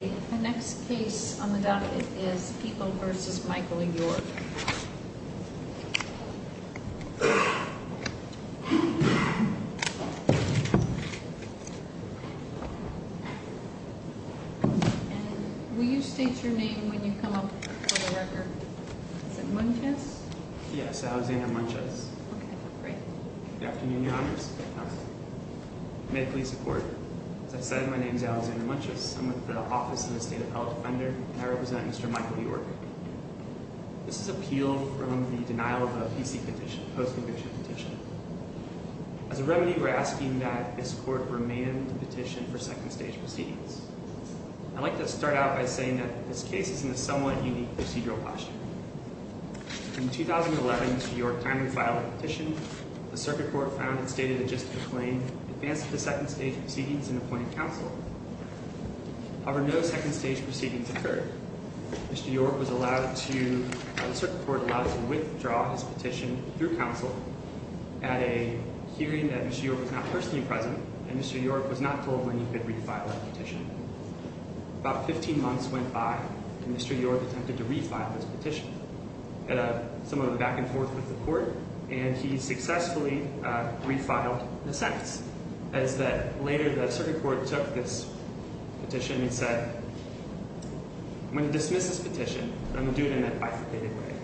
The next case on the docket is People v. Michael York. Will you state your name when you come up for the record? Is it Munches? Yes, Alexander Munches. Okay, great. Good afternoon, Your Honors. May I please report? As I said, my name is Alexander Munches. I'm with the Office of the State Appellate Defender, and I represent Mr. Michael York. This is appealed from the denial of a PC petition, post-conviction petition. As a remedy, we're asking that this court remand the petition for second-stage proceedings. I'd like to start out by saying that this case is in a somewhat unique procedural posture. In 2011, Mr. York timely filed a petition. The Circuit Court found it stated in just the claim, in advance of the second-stage proceedings in appointing counsel. However, no second-stage proceedings occurred. Mr. York was allowed to, the Circuit Court allowed him to withdraw his petition through counsel at a hearing that Mr. York was not personally present, and Mr. York was not told when he could refile that petition. About 15 months went by, and Mr. York attempted to refile this petition. He had somewhat of a back-and-forth with the court, and he successfully refiled the sentence, as that later the Circuit Court took this petition and said, when it dismisses the petition, I'm going to do it in a bifurcated way.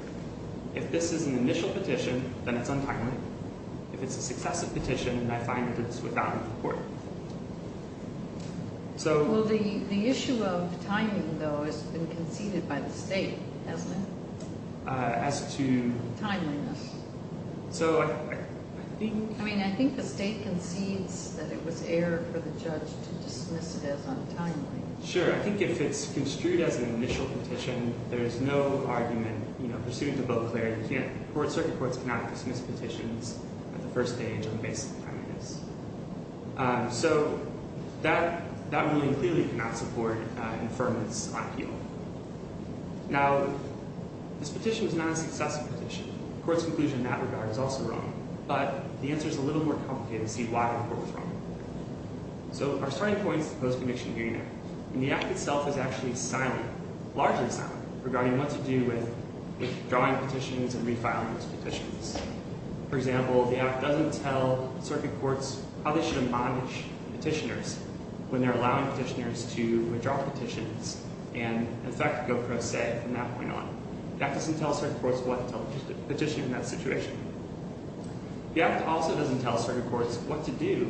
If this is an initial petition, then it's untimely. If it's a successive petition, then I find that it's without support. Well, the issue of timing, though, has been conceded by the state, hasn't it? As to? Timeliness. So I think... I mean, I think the state concedes that it was error for the judge to dismiss it as untimely. Sure. I think if it's construed as an initial petition, there's no argument, you know, pursuant to Bill Clare, you can't... Circuit Courts cannot dismiss petitions at the first stage on the basis of timeliness. So that ruling clearly cannot support affirmance on appeal. Now, this petition is not a successive petition. The Court's conclusion in that regard is also wrong. But the answer is a little more complicated to see why the Court was wrong. So our starting point is the Post-Conviction Hearing Act. And the Act itself is actually silent, largely silent, regarding what to do with withdrawing petitions and refiling those petitions. For example, the Act doesn't tell Circuit Courts how they should admonish petitioners when they're allowing petitioners to in fact go pro se from that point on. The Act doesn't tell Circuit Courts what to tell the petitioner in that situation. The Act also doesn't tell Circuit Courts what to do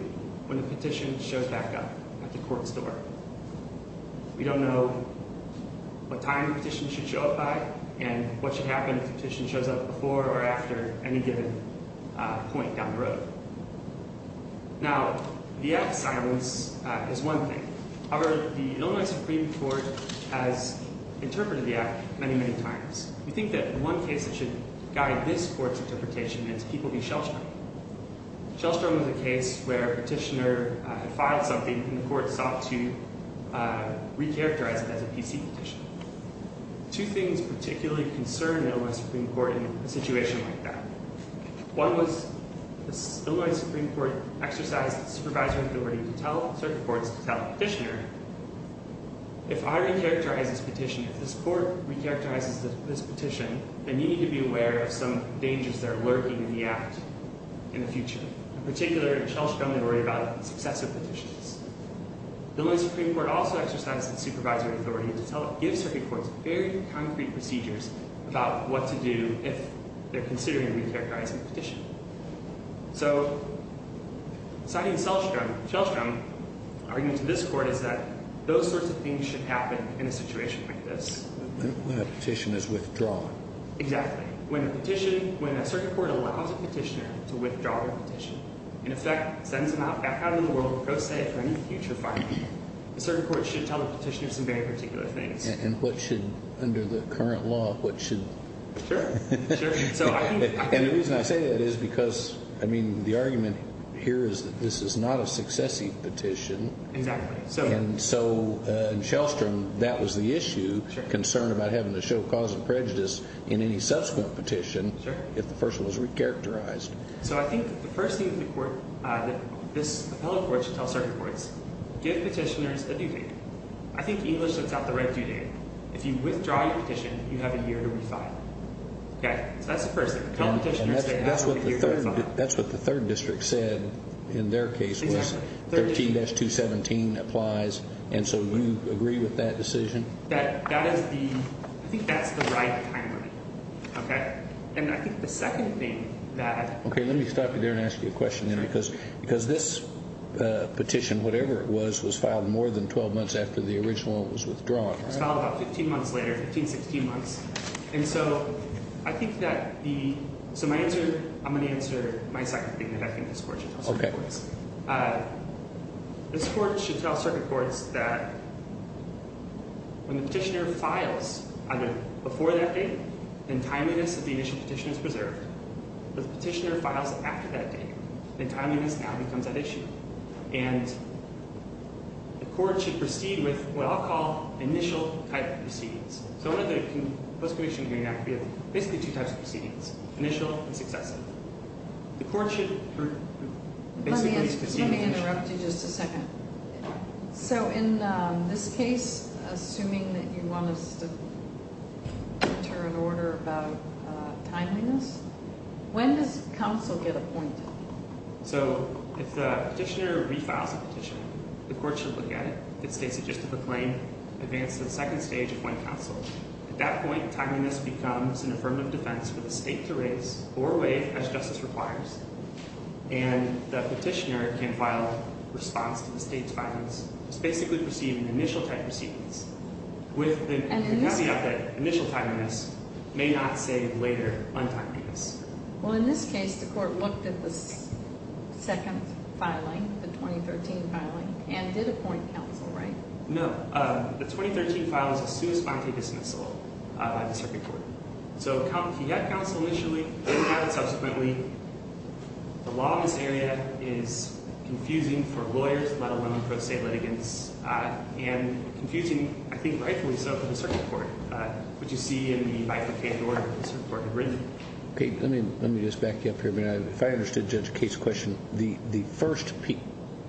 when a petition shows back up at the Court's door. We don't know what time the petition should show up by and what should happen if the petition shows up before or after any given point down the road. Now, the Act's silence is one thing. However, the Illinois Supreme Court has interpreted the Act many, many times. We think that one case that should guide this Court's interpretation is People v. Shellstrom. Shellstrom was a case where a petitioner had filed something and the Court sought to recharacterize it as a PC petition. Two things particularly concern the Illinois Supreme Court in a situation like that. One was the Illinois Supreme Court exercised supervisory authority to tell Circuit Courts to tell the petitioner, if I recharacterize this petition, if this Court recharacterizes this petition, then you need to be aware of some dangers that are lurking in the Act in the future. In particular, Shellstrom had worried about successive petitions. The Illinois Supreme Court also exercised its supervisory authority to give Circuit Courts very concrete procedures about what to do if they're considering recharacterizing the petition. So citing Shellstrom, Shellstrom's argument to this Court is that those sorts of things should happen in a situation like this. When a petition is withdrawn. Exactly. When a petition, when a Circuit Court allows a petitioner to withdraw their petition, in effect sends them out back out into the world pro se for any future filing, the Circuit Court should tell the petitioner some very particular things. And what should, under the current law, what should... Sure. Sure. And the reason I say that is because, I mean, the argument here is that this is not a successive petition. Exactly. And so in Shellstrom, that was the issue, concern about having to show cause of prejudice in any subsequent petition if the person was recharacterized. So I think the first thing that the Court, that this appellate Court should tell Circuit Courts, give petitioners a due date. I think English lets out the red due date. If you withdraw your petition, you have a year to refile. Okay. So that's the first thing. And that's what the third, that's what the third district said in their case was 13-217 applies. And so do you agree with that decision? That is the, I think that's the right time frame. Okay. And I think the second thing that... Okay, let me stop you there and ask you a question then, because this petition, whatever it was, was filed more than 12 months after the original was withdrawn. It was filed about 15 months later, 15, 16 months. And so I think that the, so my answer, I'm going to answer my second thing that I think this Court should tell Circuit Courts. Okay. This Court should tell Circuit Courts that when the petitioner files either before that date, then timeliness of the initial petition is preserved. If the petitioner files after that date, then timeliness now becomes an issue. And the Court should proceed with what I'll call initial type proceedings. So under the Post-Conviction Hearing Act, we have basically two types of proceedings, initial and successive. The Court should basically proceed... Let me interrupt you just a second. So in this case, assuming that you want us to enter an order about timeliness, when does counsel get appointed? So if the petitioner refiles a petition, the Court should look at it. If it states it just as a claim, advance to the second stage, appoint counsel. At that point, timeliness becomes an affirmative defense for the State to raise or waive as justice requires. And the petitioner can file a response to the State's findings. It's basically proceeding with initial type proceedings. With the caveat that initial timeliness may not save later untimeliness. Well, in this case, the Court looked at the second filing, the 2013 filing, and did appoint counsel, right? No. The 2013 file is a sui sponte dismissal by the Circuit Court. So he had counsel initially. He didn't have it subsequently. The law in this area is confusing for lawyers, let alone for State litigants, and confusing, I think rightfully so, for the Circuit Court. What you see in the bifurcated order that the Circuit Court had written. Okay. Let me just back you up here a minute. If I understood Judge Kate's question, the first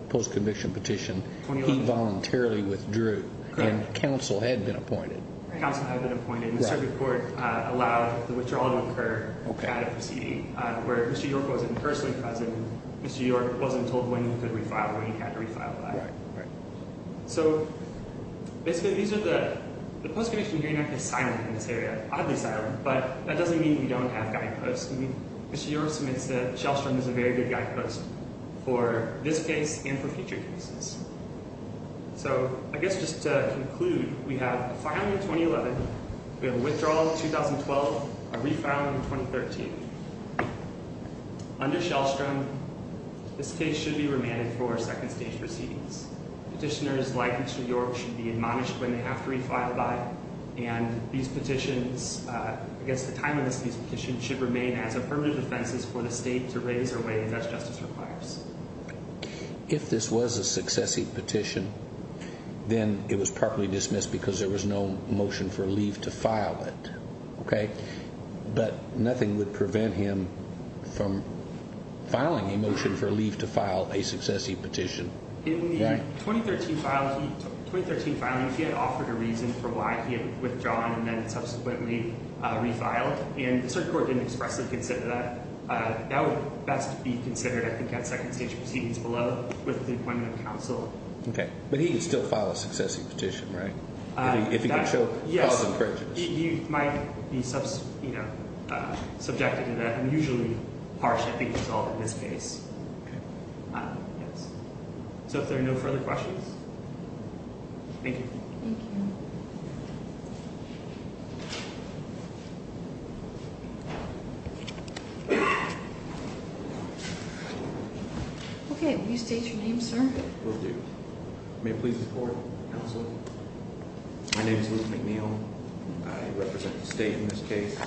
post-conviction petition, he voluntarily withdrew. Correct. And counsel had been appointed. Counsel had been appointed. The Circuit Court allowed the withdrawal to occur. Okay. Where Mr. York wasn't personally present. Mr. York wasn't told when he could refile, when he had to refile that. Right. So, basically, these are the, the Post-Conviction Hearing Act is silent in this area, oddly silent, but that doesn't mean you don't have guideposts. Mr. York submits that Shellstrom is a very good guidepost for this case and for future cases. So, I guess just to conclude, we have a filing in 2011, we have a withdrawal in 2012, a refiling in 2013. Under Shellstrom, this case should be remanded for second stage proceedings. Petitioners like Mr. York should be admonished when they have to refile by, and these petitions, I guess the time of this petition should remain as affirmative offenses for the state to raise or waive as justice requires. If this was a successive petition, then it was properly dismissed because there was no motion for leave to file it. Okay. But nothing would prevent him from filing a motion for leave to file a successive petition. In the 2013 filing, he had offered a reason for why he had withdrawn and then subsequently refiled, and the Supreme Court didn't expressly consider that. That would best be considered, I think, at second stage proceedings below with the appointment of counsel. Okay. But he could still file a successive petition, right? If he could show cause and prejudice. Yes. He might be, you know, subjected to the unusually harsh, I think, result in this case. Okay. Yes. So, if there are no further questions, Thank you. Thank you. Okay. Will you state your name, sir? Will do. May it please the court. Counsel. My name is Louis McNeil. I represent the state in this case.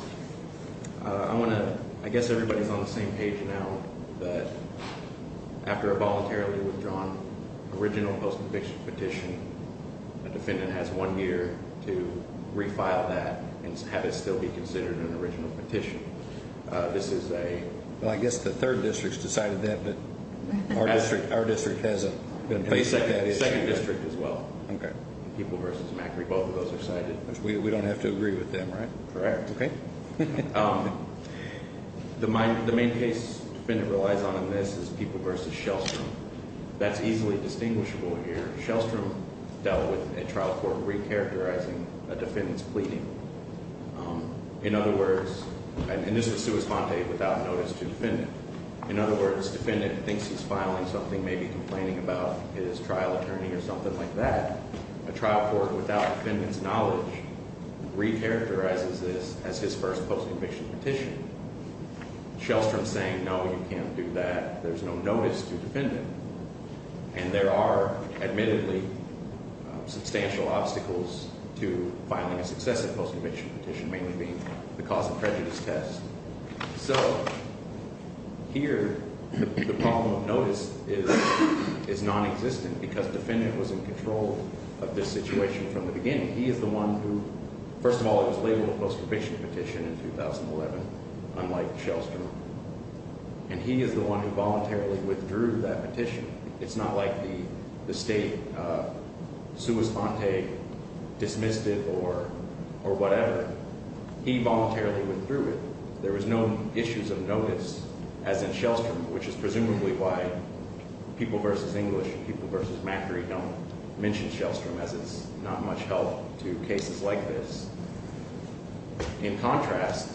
I want to, I guess everybody's on the same page now, but after a voluntarily withdrawn original post-conviction petition, a defendant has one year to refile that and have it still be considered an original petition. This is a... Well, I guess the third district has decided that, but our district hasn't been faced with that issue. The second district as well. Okay. People v. Macri, both of those are cited. We don't have to agree with them, right? Correct. Okay. The main case defendant relies on in this is People v. Shellstrom. That's easily distinguishable here. Shellstrom dealt with a trial court recharacterizing a defendant's pleading. In other words, and this is sua sponte, without notice to defendant. In other words, defendant thinks he's filing something, maybe complaining about his trial attorney or something like that. A trial court without defendant's knowledge recharacterizes this as his first post-conviction petition. Shellstrom's saying, no, you can't do that. There's no notice to defendant. And there are, admittedly, substantial obstacles to filing a successive post-conviction petition, mainly being the cause of prejudice test. So here the problem of notice is nonexistent because defendant was in control of this situation from the beginning. He is the one who, first of all, it was labeled a post-conviction petition in 2011, unlike Shellstrom. And he is the one who voluntarily withdrew that petition. It's not like the state sua sponte dismissed it or whatever. He voluntarily withdrew it. There was no issues of notice, as in Shellstrom, which is presumably why People v. English and People v. Macri don't mention Shellstrom, as it's not much help to cases like this. In contrast,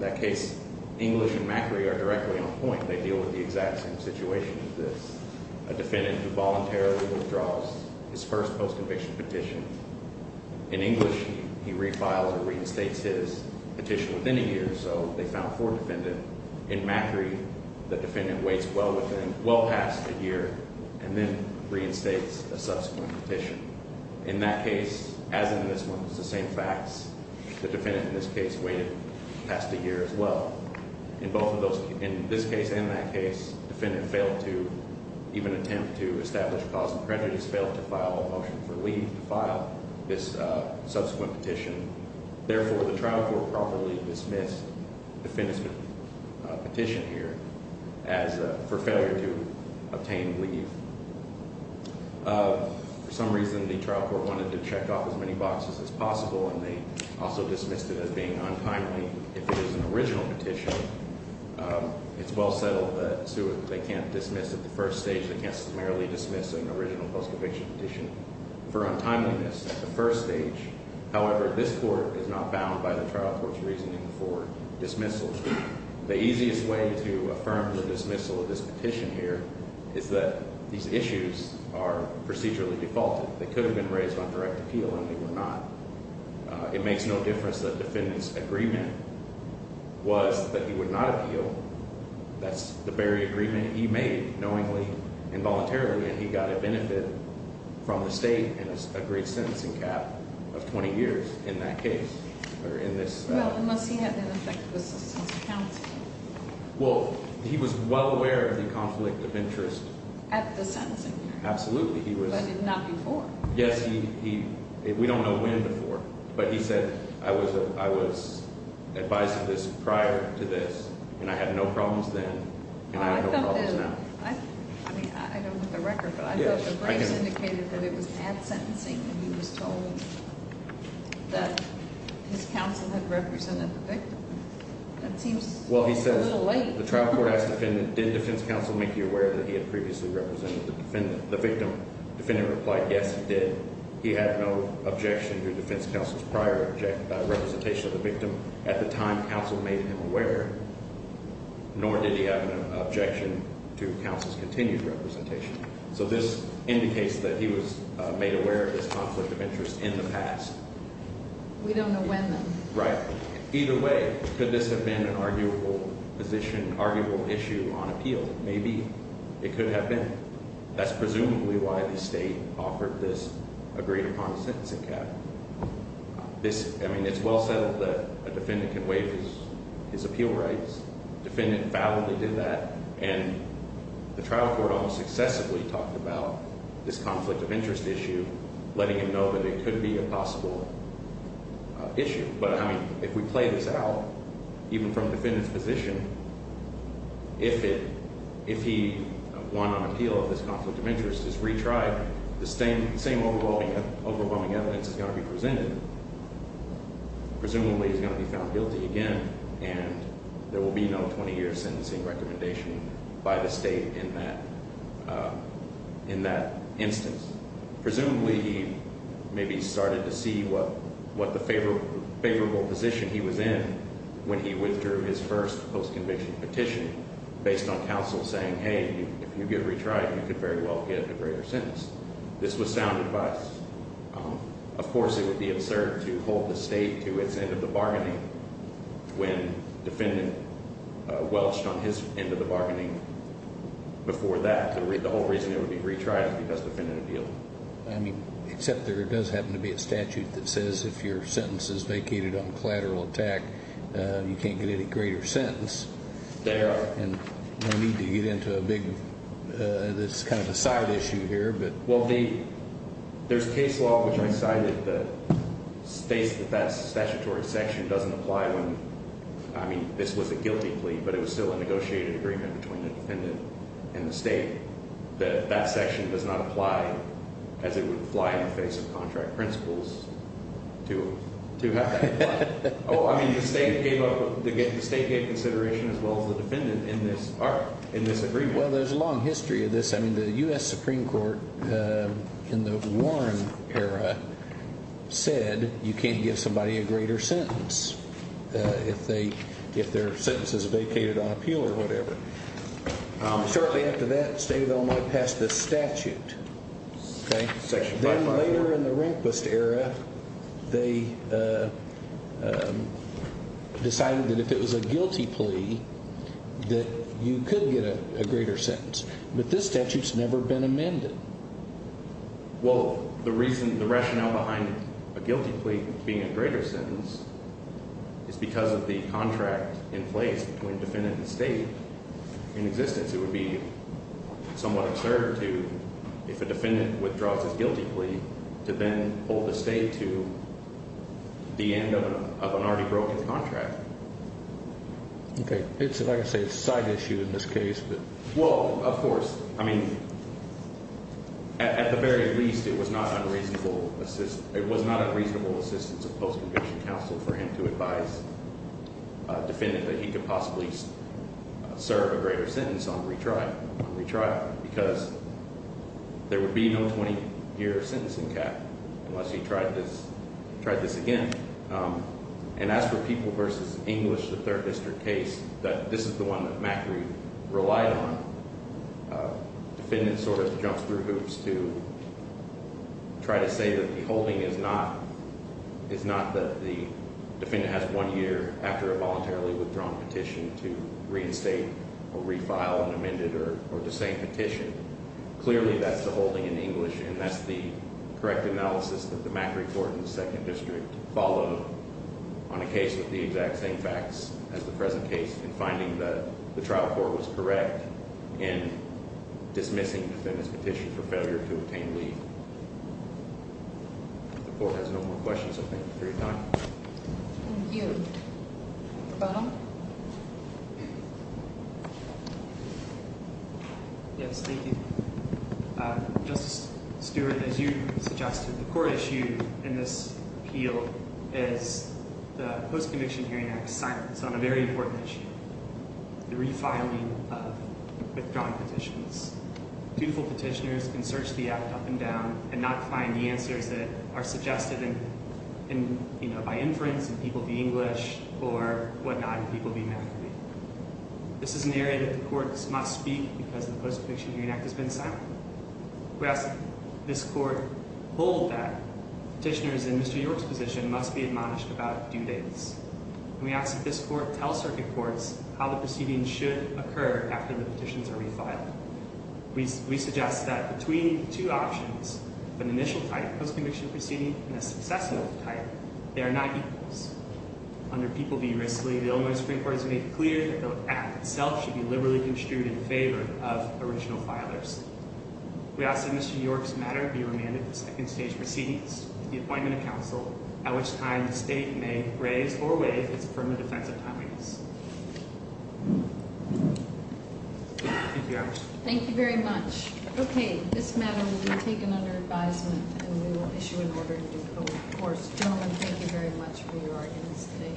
that case, English and Macri are directly on point. They deal with the exact same situation as this, a defendant who voluntarily withdraws his first post-conviction petition. In English, he refiles or reinstates his petition within a year, so they found four defendants. In Macri, the defendant waits well past a year and then reinstates a subsequent petition. In that case, as in this one, it's the same facts. The defendant in this case waited past a year as well. In both of those, in this case and that case, the defendant failed to even attempt to establish cause of prejudice, failed to file a motion for leave to file this subsequent petition. Therefore, the trial court properly dismissed the defendant's petition here for failure to obtain leave. For some reason, the trial court wanted to check off as many boxes as possible, and they also dismissed it as being untimely. If it is an original petition, it's well settled that they can't dismiss it. At the first stage, they can't summarily dismiss an original post-conviction petition for untimeliness at the first stage. However, this court is not bound by the trial court's reasoning for dismissal. The easiest way to affirm the dismissal of this petition here is that these issues are procedurally defaulted. They could have been raised on direct appeal, and they were not. It makes no difference that the defendant's agreement was that he would not appeal. That's the very agreement he made knowingly and voluntarily, and he got a benefit from the state and a great sentencing cap of 20 years in that case. Well, unless he had an effective assistance of counsel. Well, he was well aware of the conflict of interest. At the sentencing period. Absolutely. But not before. Yes. We don't know when before. But he said, I was advised of this prior to this, and I had no problems then, and I have no problems now. I don't have the record, but I thought the brace indicated that it was at sentencing when he was told that his counsel had represented the victim. That seems a little late. Well, he says, the trial court asked the defendant, did defense counsel make you aware that he had previously represented the victim? Defendant replied, yes, he did. He had no objection to defense counsel's prior representation of the victim. At the time, counsel made him aware, nor did he have an objection to counsel's continued representation. So this indicates that he was made aware of this conflict of interest in the past. We don't know when then. Right. Either way, could this have been an arguable issue on appeal? Maybe it could have been. That's presumably why the state offered this agreed-upon sentencing cap. I mean, it's well settled that a defendant can waive his appeal rights. Defendant validly did that, and the trial court almost excessively talked about this conflict of interest issue, letting him know that it could be a possible issue. But, I mean, if we play this out, even from the defendant's position, if he won on appeal of this conflict of interest, this retried, the same overwhelming evidence is going to be presented. Presumably he's going to be found guilty again, and there will be no 20-year sentencing recommendation by the state in that instance. Presumably he maybe started to see what the favorable position he was in when he withdrew his first post-conviction petition based on counsel saying, hey, if you give retried, you could very well get a greater sentence. This was sound advice. Of course, it would be absurd to hold the state to its end of the bargaining when defendant welched on his end of the bargaining before that. The whole reason it would be retried would be because the defendant appealed. I mean, except there does happen to be a statute that says if your sentence is vacated on collateral attack, you can't get any greater sentence. There are. And no need to get into a big, this is kind of a side issue here. Well, there's case law, which I cited, that states that that statutory section doesn't apply when, I mean, this was a guilty plea, but it was still a negotiated agreement between the defendant and the state, that that section does not apply as it would apply in the face of contract principles to have that apply. Oh, I mean, the state gave consideration as well as the defendant in this agreement. Well, there's a long history of this. I mean, the U.S. Supreme Court in the Warren era said you can't give somebody a greater sentence if their sentence is vacated on appeal or whatever. Shortly after that, the state of Illinois passed this statute. Then later in the Rehnquist era, they decided that if it was a guilty plea, that you could get a greater sentence. But this statute's never been amended. Well, the reason, the rationale behind a guilty plea being a greater sentence is because of the contract in place between defendant and state in existence. It would be somewhat absurd to, if a defendant withdraws his guilty plea, to then hold the state to the end of an already broken contract. Okay. It's, like I say, a side issue in this case. Well, of course. I mean, at the very least, it was not a reasonable assistance of post-conviction counsel for him to advise a defendant that he could possibly serve a greater sentence on retrial because there would be no 20-year sentencing cap unless he tried this again. And as for People v. English, the 3rd District case, this is the one that McAree relied on. Defendant sort of jumps through hoops to try to say that the holding is not that the defendant has one year after a voluntarily withdrawn petition to reinstate or refile an amended or the same petition. Clearly, that's the holding in English, and that's the correct analysis that the McAree Court in the 2nd District followed on a case with the exact same facts as the present case in finding that the trial court was correct in dismissing the defendant's petition for failure to obtain leave. If the Court has no more questions, I thank you for your time. Thank you. Mr. Bonham? Yes, thank you. Justice Stewart, as you suggested, the court issue in this appeal is the Post-Conviction Hearing Act's silence on a very important issue, the refiling of withdrawn petitions. Dutiful petitioners can search the Act up and down and not find the answers that are suggested by inference in People v. English or whatnot in People v. McAree. This is an area that the courts must speak because the Post-Conviction Hearing Act has been silent. We ask that this Court hold that petitioners in Mr. York's position must be admonished about due dates. And we ask that this Court tell circuit courts how the proceedings should occur after the petitions are refiled. We suggest that between two options, an initial type, post-conviction proceeding, and a successive type, they are not equals. Under People v. Risley, the Illinois Supreme Court has made clear that the Act itself should be liberally construed in favor of original filers. We ask that Mr. York's matter be remanded to second stage proceedings, the appointment of counsel, at which time the State may raise or waive its permanent offensive timings. Thank you very much. Okay, this matter will be taken under advisement and we will issue an order to decode. Of course, gentlemen, thank you very much for your audience today.